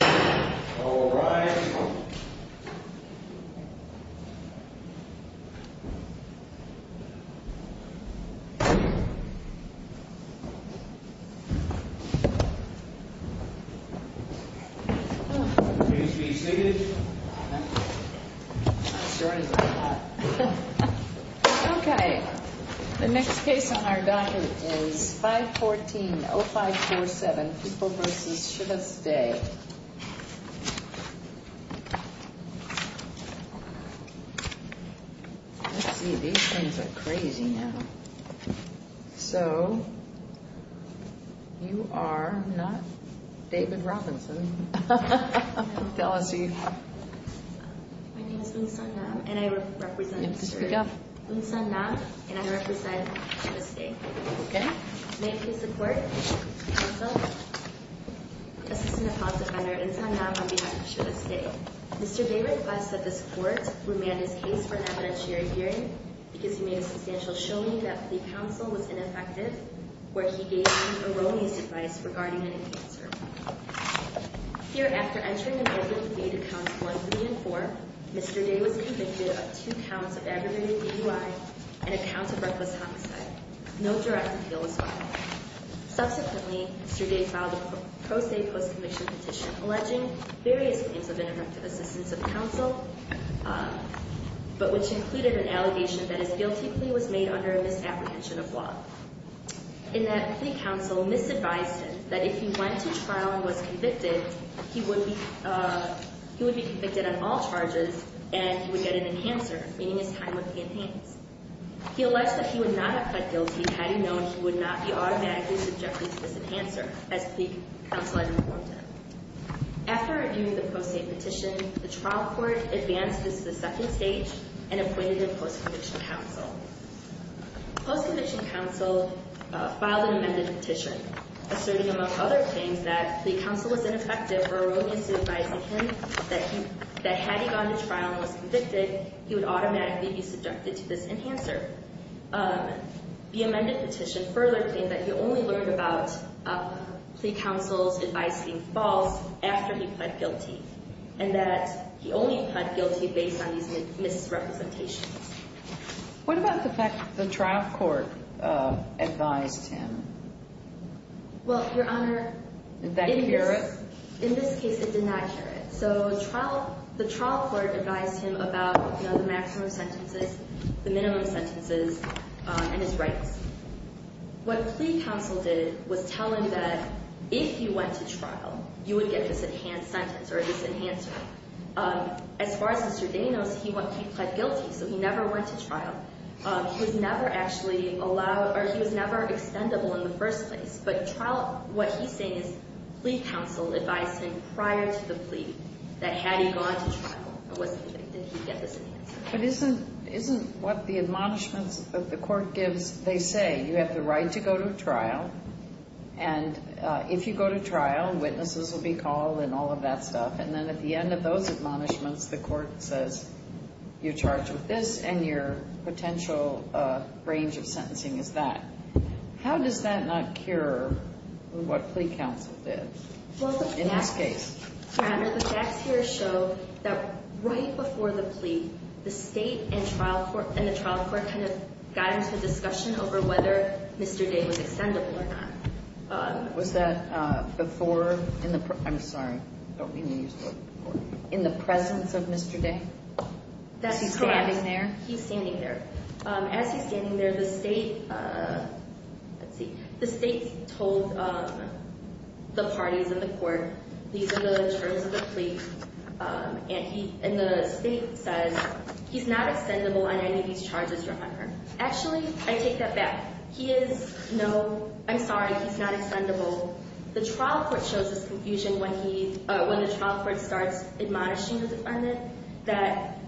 All rise. Okay, the next case on our docket is 514-0547, People v. Chivas Day. Let's see, these things are crazy now. So, you are not David Robinson. Tell us who you are. My name is Woon San Nam, and I represent Chivas Day. Okay, may I please report? Counsel? Assistant Apology Defender, Woon San Nam, on behalf of Chivas Day. Mr. Day requested that this court remand his case for an evidentiary hearing because he made a substantial showing that plea counsel was ineffective, where he gave Aaroni's advice regarding an enhancer. Here, after entering an open plea to Counts 1, 3, and 4, Mr. Day was convicted of two counts of aggravated DUI and a count of reckless homicide. No direct appeal was filed. Subsequently, Mr. Day filed a pro se post-conviction petition alleging various claims of interruptive assistance of counsel, but which included an allegation that his guilty plea was made under a misapprehension of law, in that plea counsel misadvised him that if he went to trial and was convicted, he would be convicted on all charges and he would get an enhancer, meaning his time would be enhanced. He alleged that he would not have pled guilty had he known he would not be automatically subjected to this enhancer, as plea counsel had informed him. After reviewing the pro se petition, the trial court advanced this to the second stage and appointed a post-conviction counsel. Post-conviction counsel filed an amended petition, asserting, among other things, that plea counsel was ineffective or erroneous in advising him that had he gone to trial and was convicted, he would automatically be subjected to this enhancer. The amended petition further claimed that he only learned about plea counsel's advice being false after he pled guilty and that he only pled guilty based on these misrepresentations. What about the fact that the trial court advised him? Well, Your Honor, Did that cure it? In this case, it did not cure it. So the trial court advised him about the maximum sentences, the minimum sentences, and his rights. What plea counsel did was tell him that if he went to trial, you would get this enhanced sentence or this enhancer. As far as Mr. Day knows, he pled guilty, so he never went to trial. He was never actually allowed, or he was never extendable in the first place. But what he's saying is plea counsel advised him prior to the plea that had he gone to trial and was convicted, he'd get this enhancer. But isn't what the admonishments that the court gives, they say you have the right to go to trial, and if you go to trial, witnesses will be called and all of that stuff, and then at the end of those admonishments, the court says you're charged with this, and your potential range of sentencing is that. How does that not cure what plea counsel did in this case? Well, the facts here show that right before the plea, the state and the trial court kind of got into a discussion over whether Mr. Day was extendable or not. Was that before? I'm sorry. I don't mean to use the word before. In the presence of Mr. Day? That's correct. Is he standing there? He's standing there. As he's standing there, the state told the parties in the court, these are the terms of the plea, and the state says he's not extendable on any of these charges, remember. Actually, I take that back. He is no, I'm sorry, he's not extendable. The trial court shows this confusion when the trial court starts admonishing the defendant, that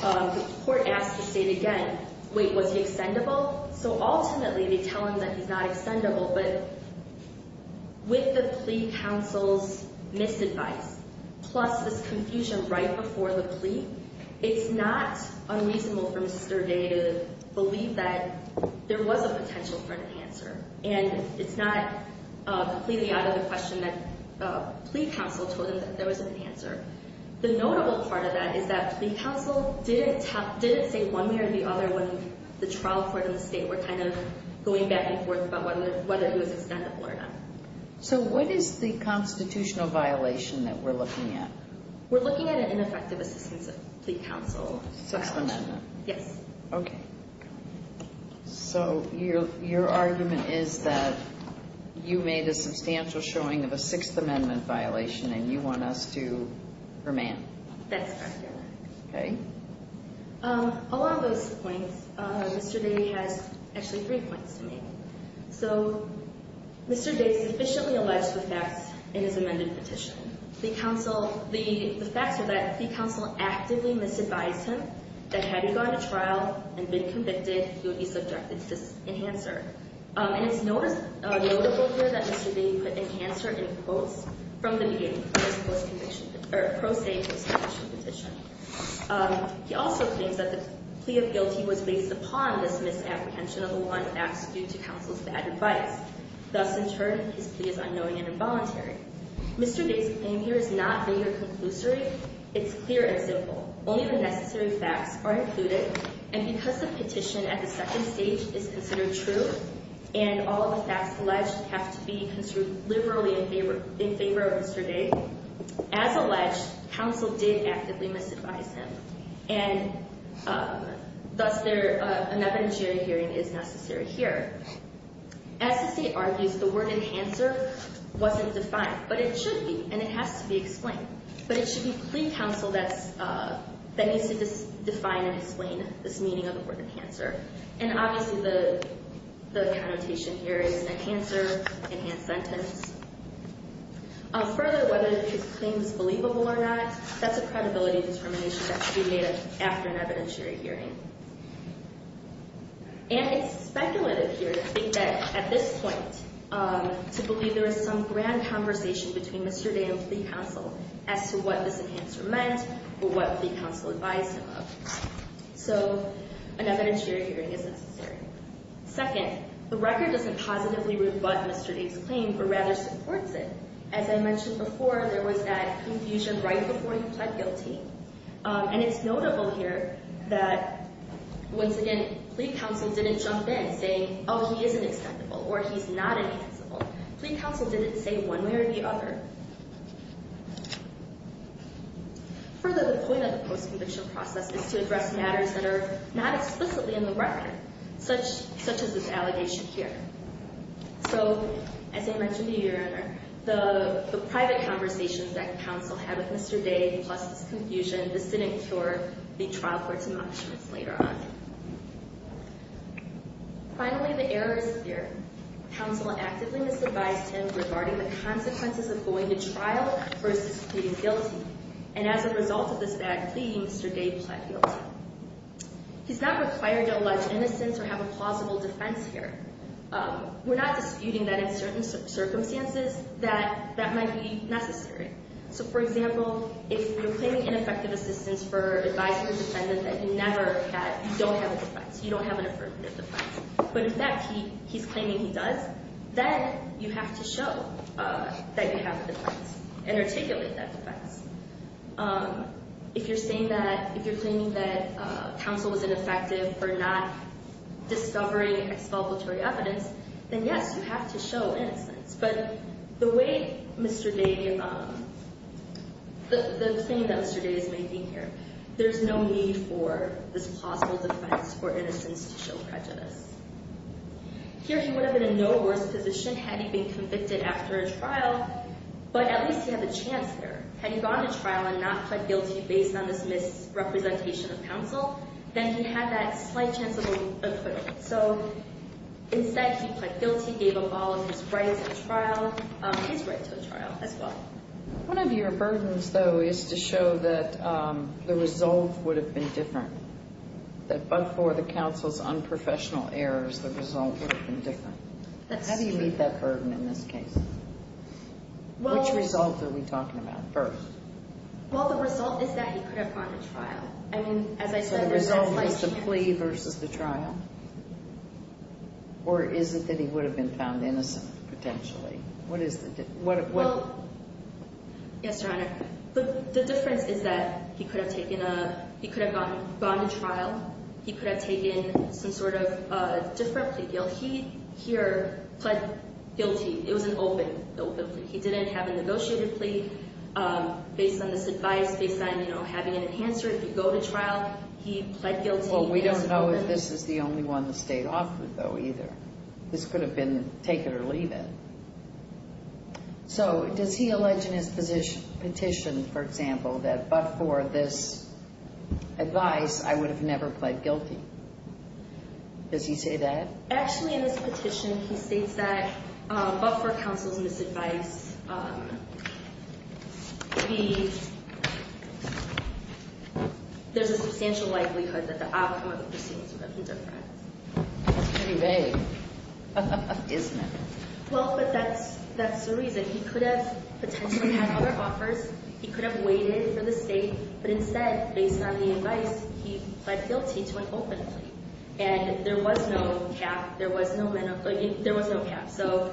the court asks the state again, wait, was he extendable? So ultimately, they tell him that he's not extendable, but with the plea counsel's misadvice, plus this confusion right before the plea, it's not unreasonable for Mr. Day to believe that there was a potential for an answer, and it's not completely out of the question that plea counsel told him that there was an answer. The notable part of that is that plea counsel didn't say one way or the other when the trial court and the state were kind of going back and forth about whether he was extendable or not. So what is the constitutional violation that we're looking at? We're looking at an ineffective assistance of plea counsel. Sixth Amendment? Yes. Okay. So your argument is that you made a substantial showing of a Sixth Amendment violation, and you want us to remand? That's correct, Your Honor. Okay. Along those points, Mr. Day has actually three points to make. So Mr. Day sufficiently alleged the facts in his amended petition. The facts are that plea counsel actively misadvised him that had he gone to trial and been convicted, he would be subjected to this enhancer. And it's notable here that Mr. Day put enhancer in quotes from the beginning of his pro se post-conviction petition. He also claims that the plea of guilty was based upon this misapprehension of the law and facts due to counsel's bad advice. Thus, in turn, his plea is unknowing and involuntary. Mr. Day's claim here is not vague or conclusory. It's clear and simple. Only the necessary facts are included. And because the petition at the second stage is considered true, and all the facts alleged have to be construed liberally in favor of Mr. Day, as alleged, counsel did actively misadvise him. And thus, an evidentiary hearing is necessary here. As the state argues, the word enhancer wasn't defined, but it should be, and it has to be explained. But it should be plea counsel that needs to define and explain this meaning of the word enhancer. And obviously, the connotation here is enhancer, enhanced sentence. Further, whether his claim is believable or not, that's a credibility determination that can be made after an evidentiary hearing. And it's speculative here to think that at this point, to believe there is some grand conversation between Mr. Day and plea counsel as to what this enhancer meant or what plea counsel advised him of. So, an evidentiary hearing is necessary. Second, the record doesn't positively rebut Mr. Day's claim, but rather supports it. As I mentioned before, there was that confusion right before he pled guilty. And it's notable here that, once again, plea counsel didn't jump in saying, oh, he isn't acceptable or he's not enhanceable. Plea counsel didn't say one way or the other. Further, the point of the post-conviction process is to address matters that are not explicitly in the record, such as this allegation here. So, as I mentioned earlier, the private conversations that counsel had with Mr. Day, plus this confusion, this didn't cure the trial court's emotions later on. Finally, the error is clear. Counsel actively misadvised him regarding the consequences of going to trial versus pleading guilty. And as a result of this bad plea, Mr. Day pled guilty. He's not required to allege innocence or have a plausible defense here. We're not disputing that in certain circumstances that that might be necessary. So, for example, if you're claiming ineffective assistance for advising a defendant that you never had, you don't have a defense. You don't have an affirmative defense. But, in fact, he's claiming he does, then you have to show that you have a defense and articulate that defense. If you're saying that, if you're claiming that counsel was ineffective for not discovering explanatory evidence, then, yes, you have to show innocence. But the way Mr. Day, the claim that Mr. Day is making here, there's no need for this plausible defense for innocence to show prejudice. Here, he would have been in no worse position had he been convicted after a trial, but at least he had the chance there. Had he gone to trial and not pled guilty based on this misrepresentation of counsel, then he had that slight chance of acquittal. So, instead, he pled guilty, gave up all of his rights at trial, his right to a trial as well. One of your burdens, though, is to show that the result would have been different, that before the counsel's unprofessional errors, the result would have been different. That's true. How do you meet that burden in this case? Which result are we talking about first? Well, the result is that he could have gone to trial. So the result is the plea versus the trial? Or is it that he would have been found innocent, potentially? What is the difference? Well, yes, Your Honor. The difference is that he could have gone to trial. He could have taken some sort of different plea. He, here, pled guilty. It was an open plea. He didn't have a negotiated plea based on this advice, based on, you know, having an answer. If you go to trial, he pled guilty. Well, we don't know if this is the only one the State offered, though, either. This could have been take it or leave it. So does he allege in his petition, for example, that but for this advice, I would have never pled guilty? Does he say that? Actually, in his petition, he states that but for counsel's misadvice, there's a substantial likelihood that the outcome of the proceedings would have been different. That's pretty vague, isn't it? Well, but that's the reason. He could have potentially had other offers. He could have waited for the State. But instead, based on the advice, he pled guilty to an open plea. And there was no cap. There was no menopause. There was no cap. So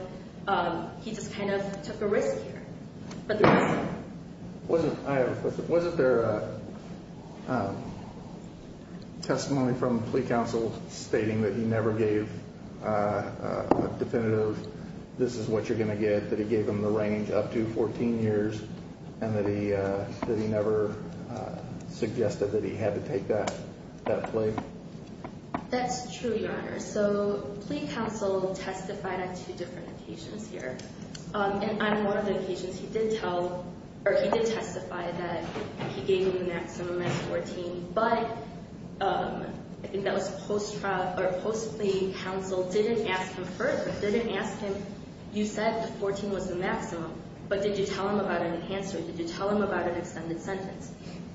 he just kind of took a risk here. Wasn't there a testimony from plea counsel stating that he never gave a definitive, this is what you're going to get, that he gave him the range up to 14 years, and that he never suggested that he had to take that plea? That's true, Your Honor. So plea counsel testified on two different occasions here. And on one of the occasions, he did tell, or he did testify that he gave him the maximum at 14. But I think that was post-trial, or post-plea counsel didn't ask him first, didn't ask him, you said the 14 was the maximum. But did you tell him about an answer? Did you tell him about an extended sentence?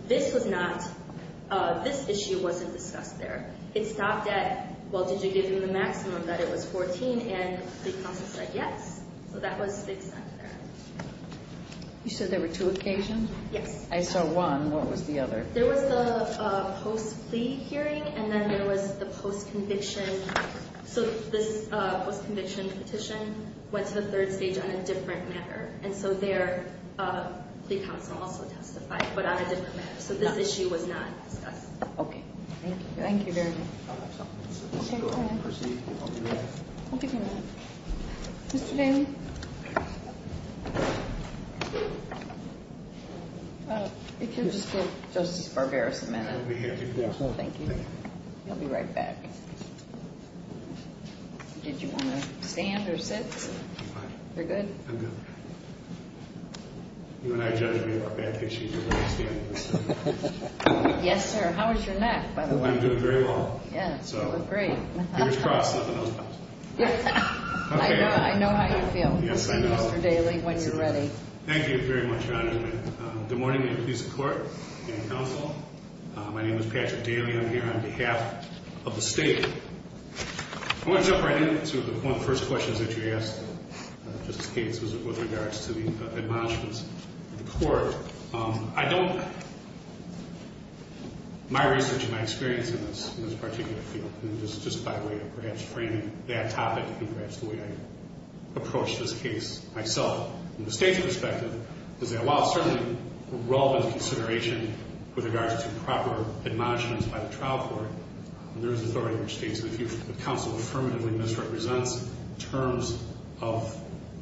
This was not, this issue wasn't discussed there. It stopped at, well, did you give him the maximum that it was 14? And plea counsel said yes. So that was the extent there. You said there were two occasions? Yes. I saw one. What was the other? There was the post-plea hearing, and then there was the post-conviction. So this post-conviction petition went to the third stage on a different matter. And so there, plea counsel also testified, but on a different matter. So this issue was not discussed. Okay. Thank you. Thank you very much. Okay, go ahead. I'll give you a minute. Mr. Daley? If you'll just give Justice Barberos a minute. I'll be here. Thank you. He'll be right back. Did you want to stand or sit? I'm fine. You're good? I'm good. You and I judge me about bad petitions. You're going to stand. Yes, sir. How is your neck, by the way? I'm doing very well. Yeah, you look great. Fingers crossed, nothing else happens. I know how you feel. Yes, I know. Mr. Daley, when you're ready. Thank you very much, Your Honor. Good morning to the police and court and counsel. My name is Patrick Daley. I'm here on behalf of the state. I want to jump right in to one of the first questions that you asked, Justice Gates, with regards to the admonishments of the court. I don't my research and my experience in this particular field, just by way of perhaps framing that topic and perhaps the way I approach this case myself from the state's perspective, is that while it's certainly relevant consideration with regards to proper admonishments by the trial court, there is authority in the state. So if the counsel affirmatively misrepresents terms of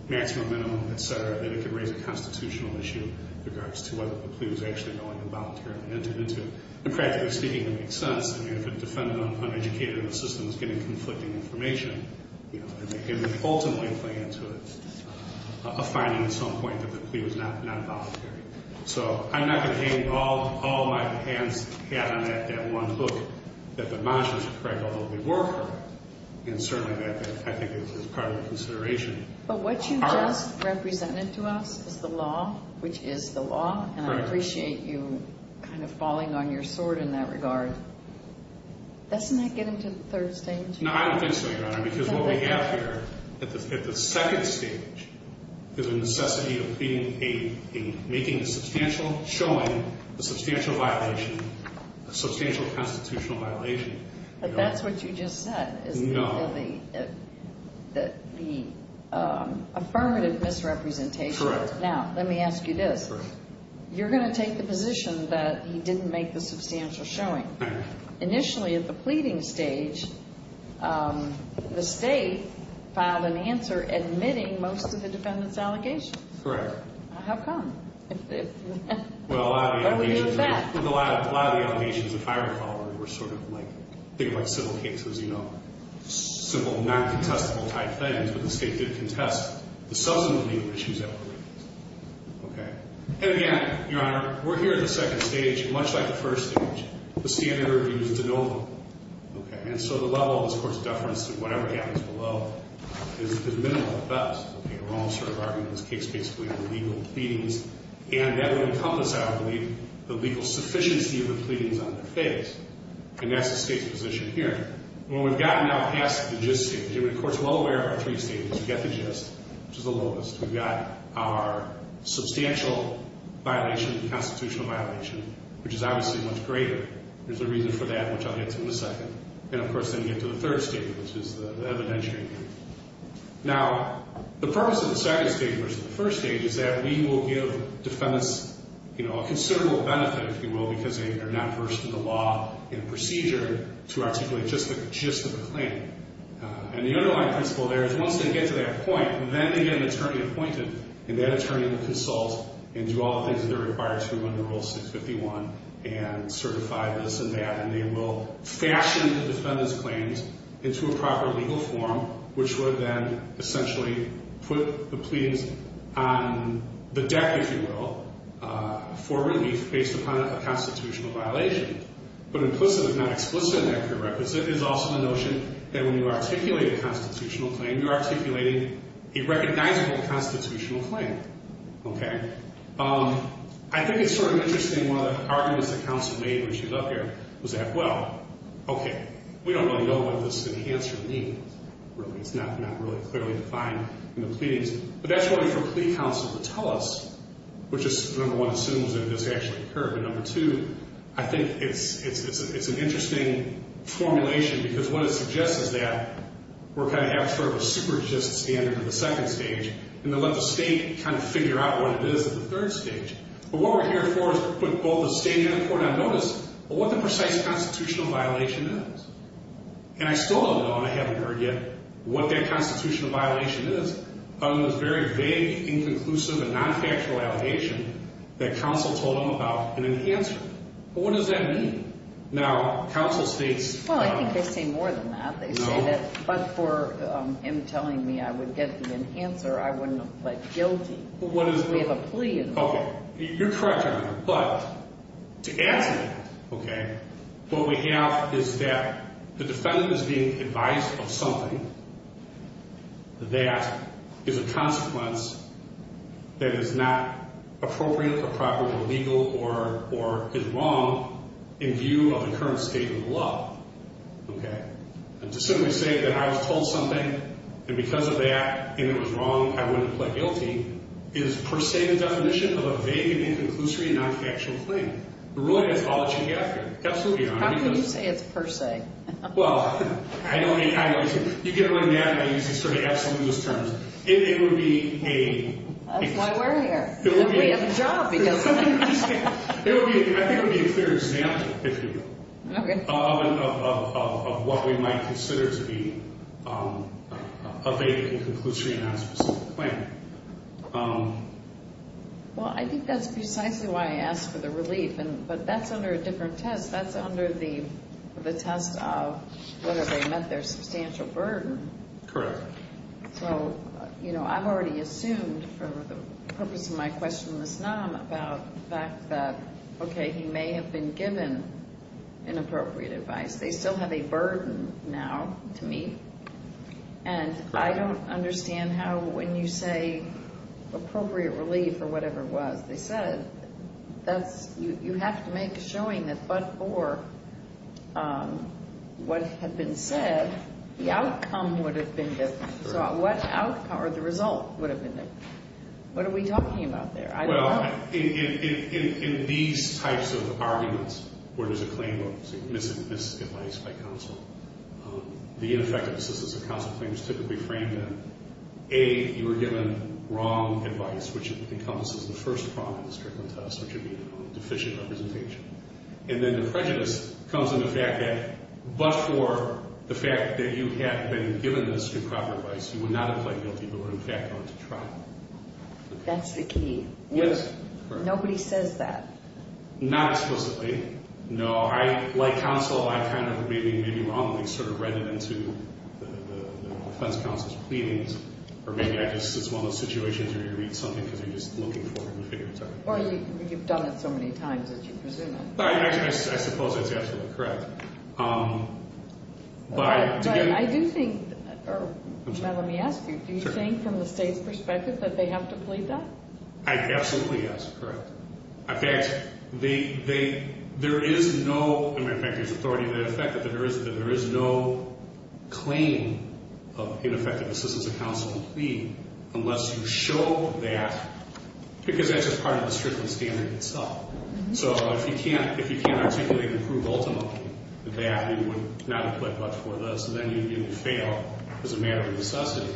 maximum, minimum, et cetera, then it can raise a constitutional issue in regards to whether the plea was actually going to be voluntarily entered into. And practically speaking, it makes sense. I mean, if a defendant, uneducated, in the system, is getting conflicting information, it would ultimately play into a finding at some point that the plea was not voluntary. So I'm not going to hang all my hands on that one hook that the admonishments were correct, although they were correct. And certainly that, I think, is part of the consideration. But what you just represented to us is the law, which is the law. And I appreciate you kind of falling on your sword in that regard. Doesn't that get into the third stage? No, I don't think so, Your Honor, because what we have here at the second stage is a necessity of making a substantial showing, a substantial violation, a substantial constitutional violation. But that's what you just said is the affirmative misrepresentation. Correct. Now, let me ask you this. You're going to take the position that he didn't make the substantial showing. Initially at the pleading stage, the state filed an answer admitting most of the defendant's allegations. Correct. How come? Well, a lot of the allegations, if I recall, were sort of like civil cases, you know, simple non-contestable type things, but the state did contest the substantive legal issues that were raised. And again, Your Honor, we're here at the second stage. Much like the first stage, the standard review is de novo. Okay. And so the level of this Court's deference to whatever happens below is minimal at best. We're all sort of arguing in this case, basically, the legal pleadings, and that would encompass, I believe, the legal sufficiency of the pleadings on their face. And that's the state's position here. When we've gotten now past the gist stage, and the Court's well aware of our three stages, we've got the gist, which is the lowest, we've got our substantial violation, the constitutional violation, which is obviously much greater. There's a reason for that, which I'll get to in a second. And, of course, then you get to the third stage, which is the evidentiary review. Now, the purpose of the second stage versus the first stage is that we will give defendants, you know, a considerable benefit, if you will, because they are not versed in the law and procedure to articulate just the gist of the claim. And the underlying principle there is once they get to that point, then they get an attorney appointed, and that attorney will consult and do all the things that they're required to under Rule 651 and certify this and that, and they will fashion the defendant's claims into a proper legal form, which would then essentially put the pleadings on the deck, if you will, for relief based upon a constitutional violation. But implicit, if not explicit in that prerequisite, is also the notion that when you articulate a constitutional claim, you're articulating a recognizable constitutional claim. Okay? I think it's sort of interesting. One of the arguments that counsel made when she was up here was that, well, okay, we don't really know what this enhancer means. It's not really clearly defined in the pleadings. But that's one for plea counsel to tell us, which is, number one, assumes that this actually occurred. But, number two, I think it's an interesting formulation, because what it suggests is that we're kind of at sort of a super gist standard in the second stage, and then let the state kind of figure out what it is at the third stage. But what we're here for is to put both the state and the court on notice of what the precise constitutional violation is. And I still don't know, and I haven't heard yet, what that constitutional violation is other than this very vague, inconclusive, and non-factual allegation that counsel told them about an enhancer. But what does that mean? Now, counsel states... Well, I think they say more than that. But for him telling me I would get the enhancer, I wouldn't have pled guilty. Because we have a plea involved. You're correct, Your Honor, but to answer that, okay, what we have is that the defendant is being advised of something that is a consequence that is not appropriate, appropriate, or legal, or is wrong in view of the current state of the law. Okay? And to simply say that I was told something, and because of that, and it was wrong, I wouldn't have pled guilty, is per se the definition of a vague and inconclusive and non-factual claim. But really, that's all that you have here. Absolutely, Your Honor. How can you say it's per se? Well, I don't think... You get around that by using sort of absolutist terms. It would be a... That's why we're here. We have a job, because... I think it would be a clear example, if you will, of what we might consider to be a vague and inconclusive and non-specific claim. Well, I think that's precisely why I asked for the relief, but that's under a different test. That's under the test of whether they met their substantial burden. Correct. So, you know, I've already assumed, for the purpose of my question, Ms. Naum, about the fact that, okay, he may have been given inappropriate advice. They still have a burden now to me, and I don't understand how when you say appropriate relief or whatever it was, they said you have to make a showing that but for what had been said, the outcome would have been different. So what outcome or the result would have been different? What are we talking about there? Well, in these types of arguments where there's a claim of misadvice by counsel, the ineffective assistance of counsel claim is typically framed in, A, you were given wrong advice, which encompasses the first problem in this curriculum test, which would be deficient representation. And then the prejudice comes in the fact that but for the fact that you had been given this improper advice, you would not have pled guilty, but were, in fact, going to try. That's the key. Yes. Nobody says that. Not explicitly. No. Like counsel, I kind of maybe wrongly sort of read it into the defense counsel's pleadings, or maybe I just, it's one of those situations where you read something because you're just looking for it and figure it out. Well, you've done it so many times that you presume it. I suppose that's absolutely correct. But I do think, now let me ask you, do you think from the state's perspective that they have to plead that? Absolutely, yes, correct. In fact, there is no, in fact, there's authority to the effect that there is no claim of ineffective assistance of counsel to plead unless you show that, because that's just part of the Strickland standard itself. So if you can't articulate and prove ultimately that you would not have pled guilty for this, then you would fail as a matter of necessity.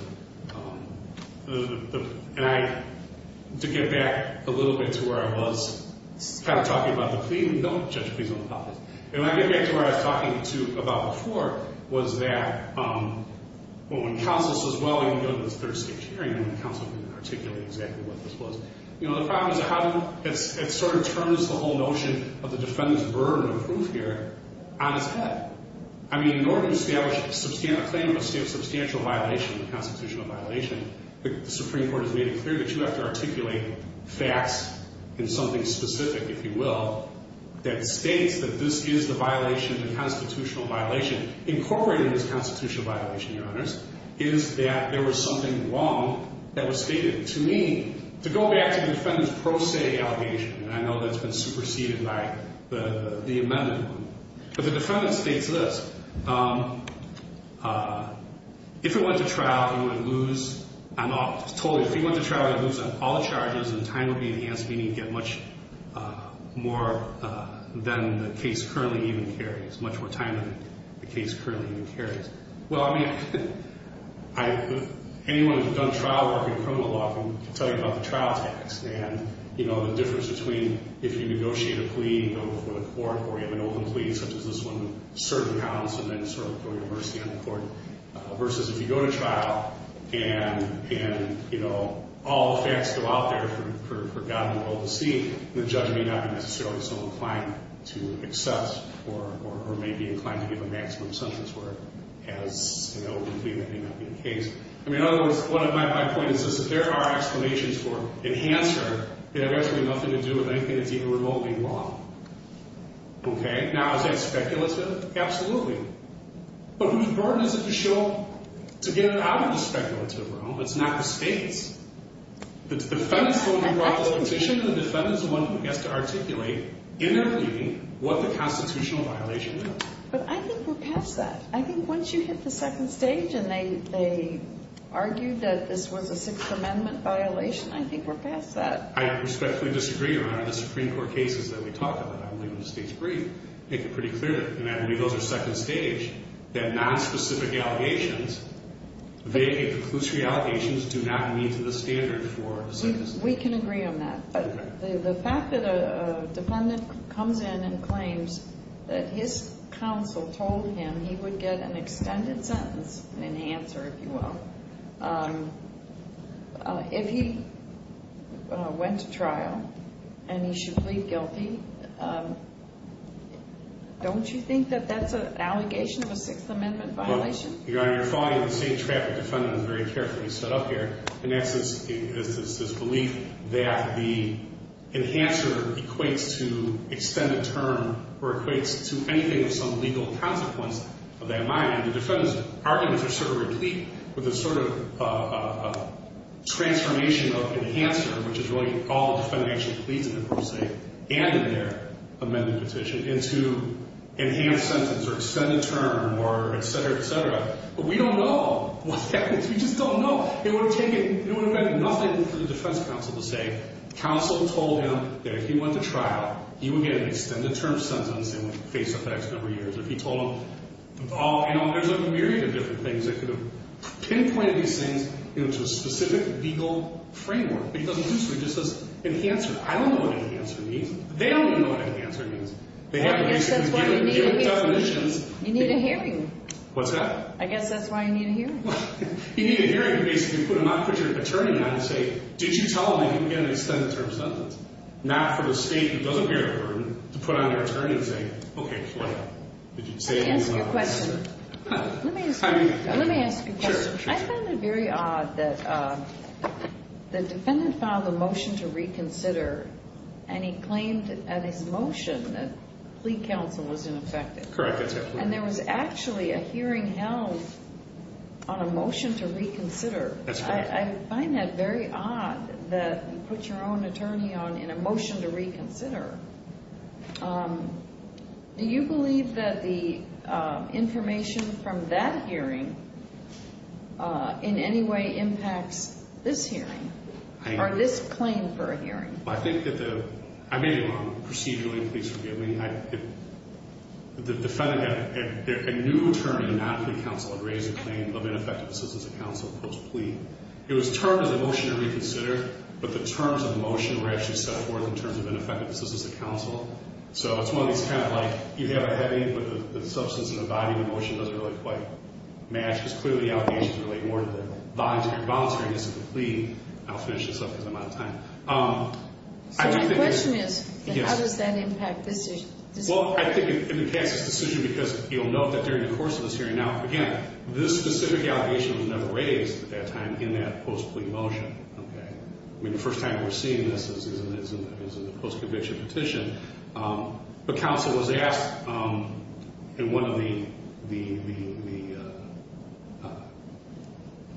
And I, to get back a little bit to where I was, kind of talking about the plea, don't judge pleas on the policy. And when I get back to where I was talking to you about before was that when counsel says, well, we can go to this third state hearing and counsel can articulate exactly what this was. You know, the problem is how it sort of turns the whole notion of the defendant's burden of proof here on its head. I mean, in order to establish a claim of substantial violation, a constitutional violation, the Supreme Court has made it clear that you have to articulate facts in something specific, if you will, that states that this is the violation, the constitutional violation. Incorporated in this constitutional violation, Your Honors, is that there was something wrong that was stated. To me, to go back to the defendant's pro se allegation, and I know that's been superseded by the amendment group, but the defendant states this. If it went to trial, you would lose on all charges and time would be enhanced, meaning you'd get much more than the case currently even carries, much more time than the case currently even carries. Well, I mean, anyone who's done trial work in criminal law can tell you about the trial tax and, you know, the difference between if you negotiate a plea, you go before the court, or you have an open plea such as this one, certain counts, and then sort of throw your mercy on the court, versus if you go to trial and, you know, all the facts go out there for God and the world to see, the judge may not be necessarily so inclined to accept or may be inclined to give a maximum sentence for it as an open plea may not be the case. I mean, in other words, my point is this. If there are explanations for enhancer, they have absolutely nothing to do with anything that's even remotely wrong. Okay? Now, is that speculative? Absolutely. But whose burden is it to show, to get it out of the speculative realm? It's not the state's. The defendant's the one who brought the petition. The defendant's the one who gets to articulate in their plea what the constitutional violation is. But I think we're past that. I think once you hit the second stage and they argue that this was a Sixth Amendment violation, I think we're past that. I respectfully disagree around the Supreme Court cases that we talked about. I'm leaving the stage free. Make it pretty clear, and I believe those are second stage, that nonspecific allegations, vague and conclusory allegations do not meet the standard for a sentence. We can agree on that. But the fact that a defendant comes in and claims that his counsel told him he would get an extended sentence, an enhancer, if you will, if he went to trial and he should plead guilty, don't you think that that's an allegation of a Sixth Amendment violation? You're following the same trap the defendant has very carefully set up here, and that's this belief that the enhancer equates to extended term or equates to anything of some legal consequence of that minor. And the defendant's arguments are sort of replete with a sort of transformation of enhancer, which is really all the defendant actually pleads in the first state and in their amended petition, into enhanced sentence or extended term or et cetera, et cetera. But we don't know what that is. We just don't know. It would have meant nothing for the defense counsel to say, counsel told him that if he went to trial, he would get an extended term sentence, and face effects over the years. If he told them, oh, you know, there's a myriad of different things that could have pinpointed these things into a specific legal framework. But he doesn't do so. He just says enhancer. I don't know what enhancer means. They don't even know what enhancer means. They haven't recently given their definitions. You need a hearing. What's that? I guess that's why you need a hearing. You need a hearing to basically put them on, put your attorney on and say, did you tell them they didn't get an extended term sentence? Not for the state that doesn't bear the burden to put on their attorney and say, okay, what happened? Did you say anything? Let me ask you a question. Let me ask you a question. Sure. I found it very odd that the defendant filed a motion to reconsider, and he claimed in his motion that plea counsel was ineffective. Correct. And there was actually a hearing held on a motion to reconsider. That's correct. I find that very odd that you put your own attorney on in a motion to reconsider. Do you believe that the information from that hearing in any way impacts this hearing or this claim for a hearing? I think that the ‑‑ I may be wrong. Procedurally, please forgive me. The defendant had a new term, not plea counsel. It raised the claim of ineffective assistance of counsel post plea. It was termed as a motion to reconsider, but the terms of the motion were actually set forth in terms of ineffective assistance of counsel. So it's one of these kind of like you have a heavy, but the substance of the body of the motion doesn't really quite match, because clearly the allegations relate more to the voluntaryness of the plea. I'll finish this up because I'm out of time. So my question is, how does that impact this decision? Well, I think it impacts this decision because you'll note that during the course of this hearing, now, again, this specific allegation was never raised at that time in that post plea motion. I mean, the first time we're seeing this is in the post conviction petition. But counsel was asked in one of the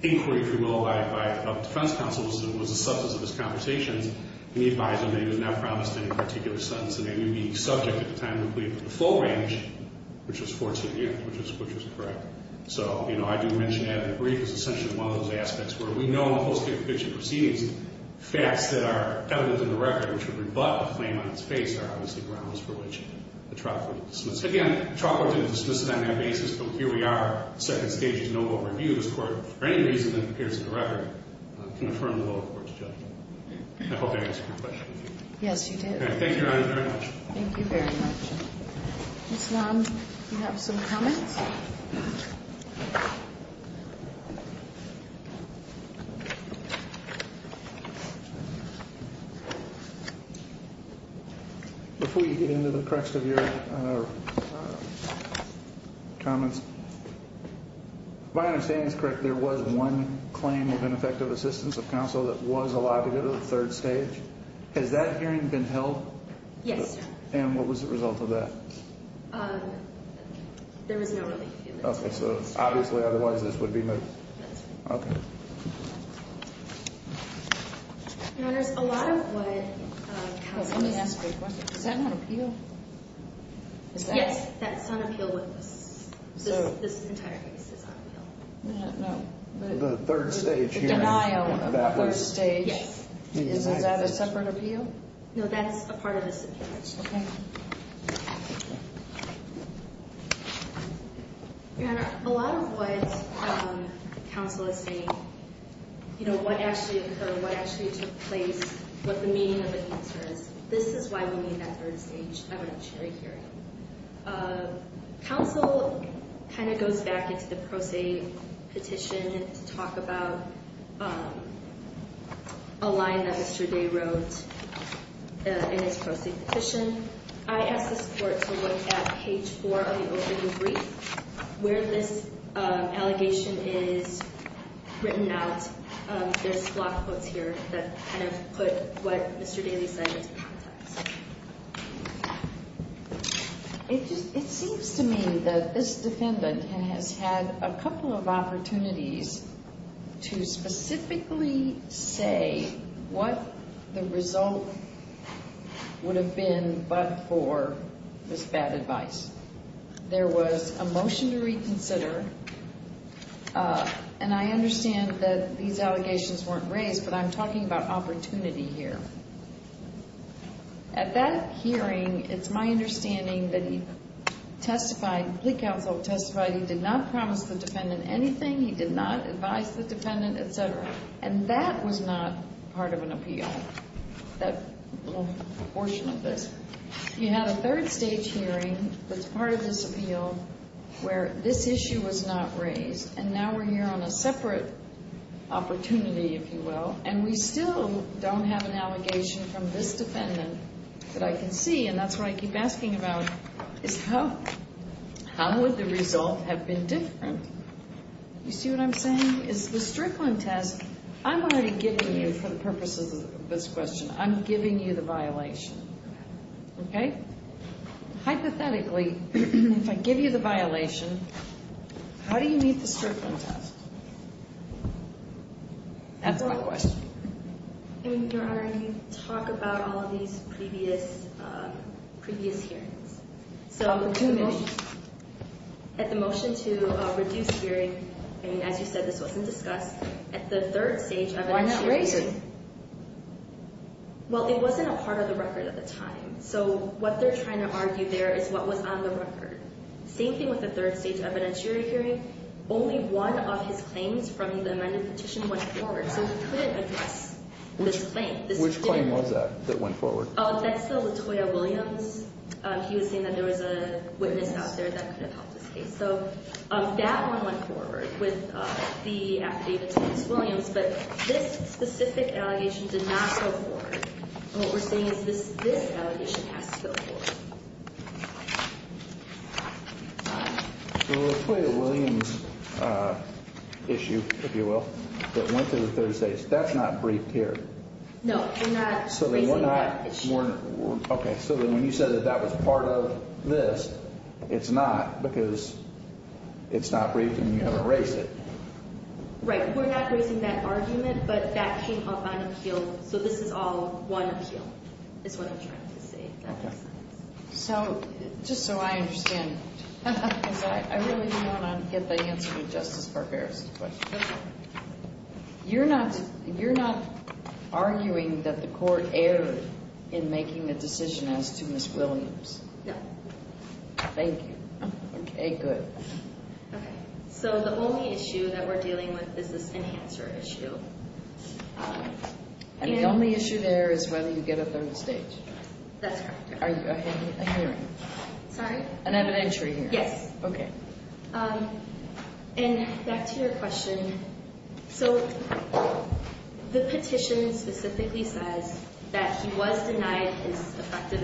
inquiries, if you will, by a defense counsel, was the substance of his conversations, and he advised him that he was not promised any particular sentence, and that he would be subject at the time of the plea for the full range, which was 14 years, which was correct. So I do mention that in the brief as essentially one of those aspects where we know in the post conviction proceedings, facts that are evident in the record, which would rebut the claim on its face, are obviously grounds for which the trial court would dismiss. Again, the trial court didn't dismiss it on that basis, but here we are, the second stage is no more review. This court, for any reason that appears in the record, can affirm the lower court's judgment. I hope I answered your question. Yes, you did. Thank you, Your Honor, very much. Thank you very much. Ms. Long, do you have some comments? Yes. Before you get into the crux of your comments, if my understanding is correct, there was one claim of ineffective assistance of counsel that was allowed to go to the third stage. Has that hearing been held? Yes. And what was the result of that? There was no relief. Okay, so obviously otherwise this would be moved. That's right. Okay. Your Honor, there's a lot of what counsel has said. Let me ask you a question. Is that on appeal? Yes, that's on appeal. This entire case is on appeal. No. The third stage hearing. The denial of the first stage. Yes. Is that a separate appeal? No, that's a part of this appeal. Thank you very much. Okay. Your Honor, a lot of what counsel is saying, you know, what actually occurred, what actually took place, what the meaning of the answer is, this is why we need that third stage evidentiary hearing. Counsel kind of goes back into the pro se petition to talk about a line that Mr. Day wrote in his pro se petition. I asked this court to look at page four of the opening brief where this allegation is written out. There's a lot of quotes here that kind of put what Mr. Daly said into context. It seems to me that this defendant has had a couple of opportunities to specifically say what the result would have been but for this bad advice. There was a motion to reconsider. And I understand that these allegations weren't raised, but I'm talking about opportunity here. At that hearing, it's my understanding that he testified, the counsel testified he did not promise the defendant anything, he did not advise the defendant, et cetera. And that was not part of an appeal, that little portion of this. You had a third stage hearing that's part of this appeal where this issue was not raised. And now we're here on a separate opportunity, if you will. And we still don't have an allegation from this defendant that I can see. And that's what I keep asking about is how would the result have been different? You see what I'm saying? I'm already giving you, for the purposes of this question, I'm giving you the violation. Okay? Hypothetically, if I give you the violation, how do you meet the Strickland test? That's my question. Your Honor, you talk about all of these previous hearings. At the motion to reduce hearing, as you said, this wasn't discussed, at the third stage evidence hearing. Why not raise it? Well, it wasn't a part of the record at the time. So what they're trying to argue there is what was on the record. Same thing with the third stage evidence hearing. Only one of his claims from the amended petition went forward, so we couldn't address this claim. Which claim was that that went forward? Oh, that's the Latoya Williams. He was saying that there was a witness out there that could have helped his case. So that one went forward with the affidavit to Ms. Williams, but this specific allegation did not go forward. What we're saying is this allegation has to go forward. The Latoya Williams issue, if you will, that went to the third stage, that's not briefed here. No, we're not raising that issue. Okay, so when you said that that was part of this, it's not because it's not briefed and you haven't raised it. Right, we're not raising that argument, but that came up on appeal, so this is all one appeal is what I'm trying to say, if that makes sense. So, just so I understand, because I really don't want to get the answer to Justice Barbera's question. You're not arguing that the court erred in making a decision as to Ms. Williams? No. Thank you. Okay, good. Okay, so the only issue that we're dealing with is this enhancer issue. And the only issue there is whether you get a third stage. That's correct. Are you a hearing? Sorry? An evidentiary hearing. Yes. Okay. And back to your question. So, the petition specifically says that he was denied his effective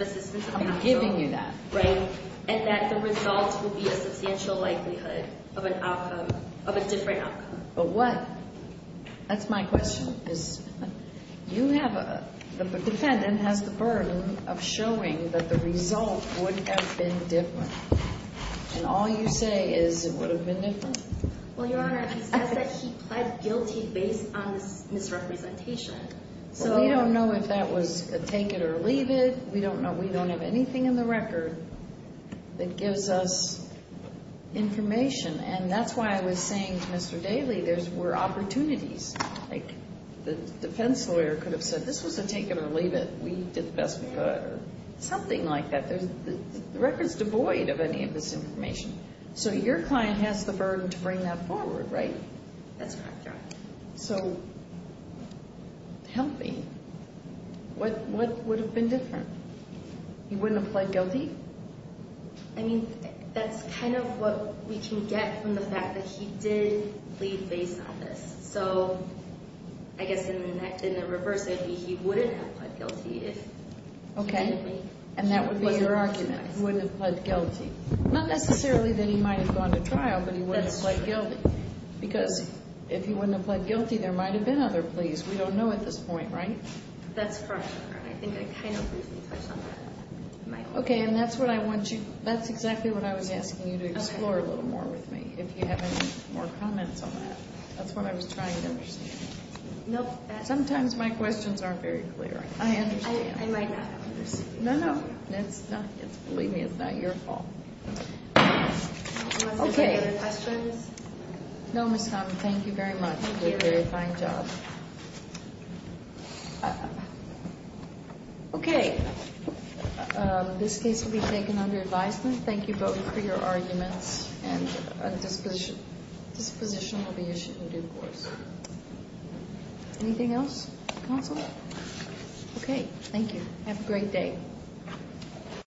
assistance. I'm not giving you that. Right? And that the result would be a substantial likelihood of an outcome, of a different outcome. But what, that's my question, is you have a, the defendant has the burden of showing that the result would have been different. And all you say is it would have been different? Well, Your Honor, he says that he pled guilty based on this misrepresentation. Well, we don't know if that was a take it or leave it. We don't know. We don't have anything in the record that gives us information. And that's why I was saying to Mr. Daley there were opportunities. Like the defense lawyer could have said this was a take it or leave it. We did the best we could or something like that. The record is devoid of any of this information. So, your client has the burden to bring that forward, right? That's correct, Your Honor. So, help me. What would have been different? He wouldn't have pled guilty? I mean, that's kind of what we can get from the fact that he did plead based on this. So, I guess in the reverse, he wouldn't have pled guilty. Okay. And that would be your argument, he wouldn't have pled guilty. Not necessarily that he might have gone to trial, but he wouldn't have pled guilty. Because if he wouldn't have pled guilty, there might have been other pleas. We don't know at this point, right? That's correct, Your Honor. I think I kind of briefly touched on that. Okay, and that's exactly what I was asking you to explore a little more with me, if you have any more comments on that. That's what I was trying to understand. Nope. Sometimes my questions aren't very clear. I understand. I might not understand. No, no. Believe me, it's not your fault. Okay. Unless there's any other questions? No, Ms. Conlon. Thank you very much. Thank you. You did a very fine job. Okay. This case will be taken under advisement. Thank you both for your arguments. And a disposition will be issued in due course. Anything else, counsel? Okay. Thank you. Have a great day.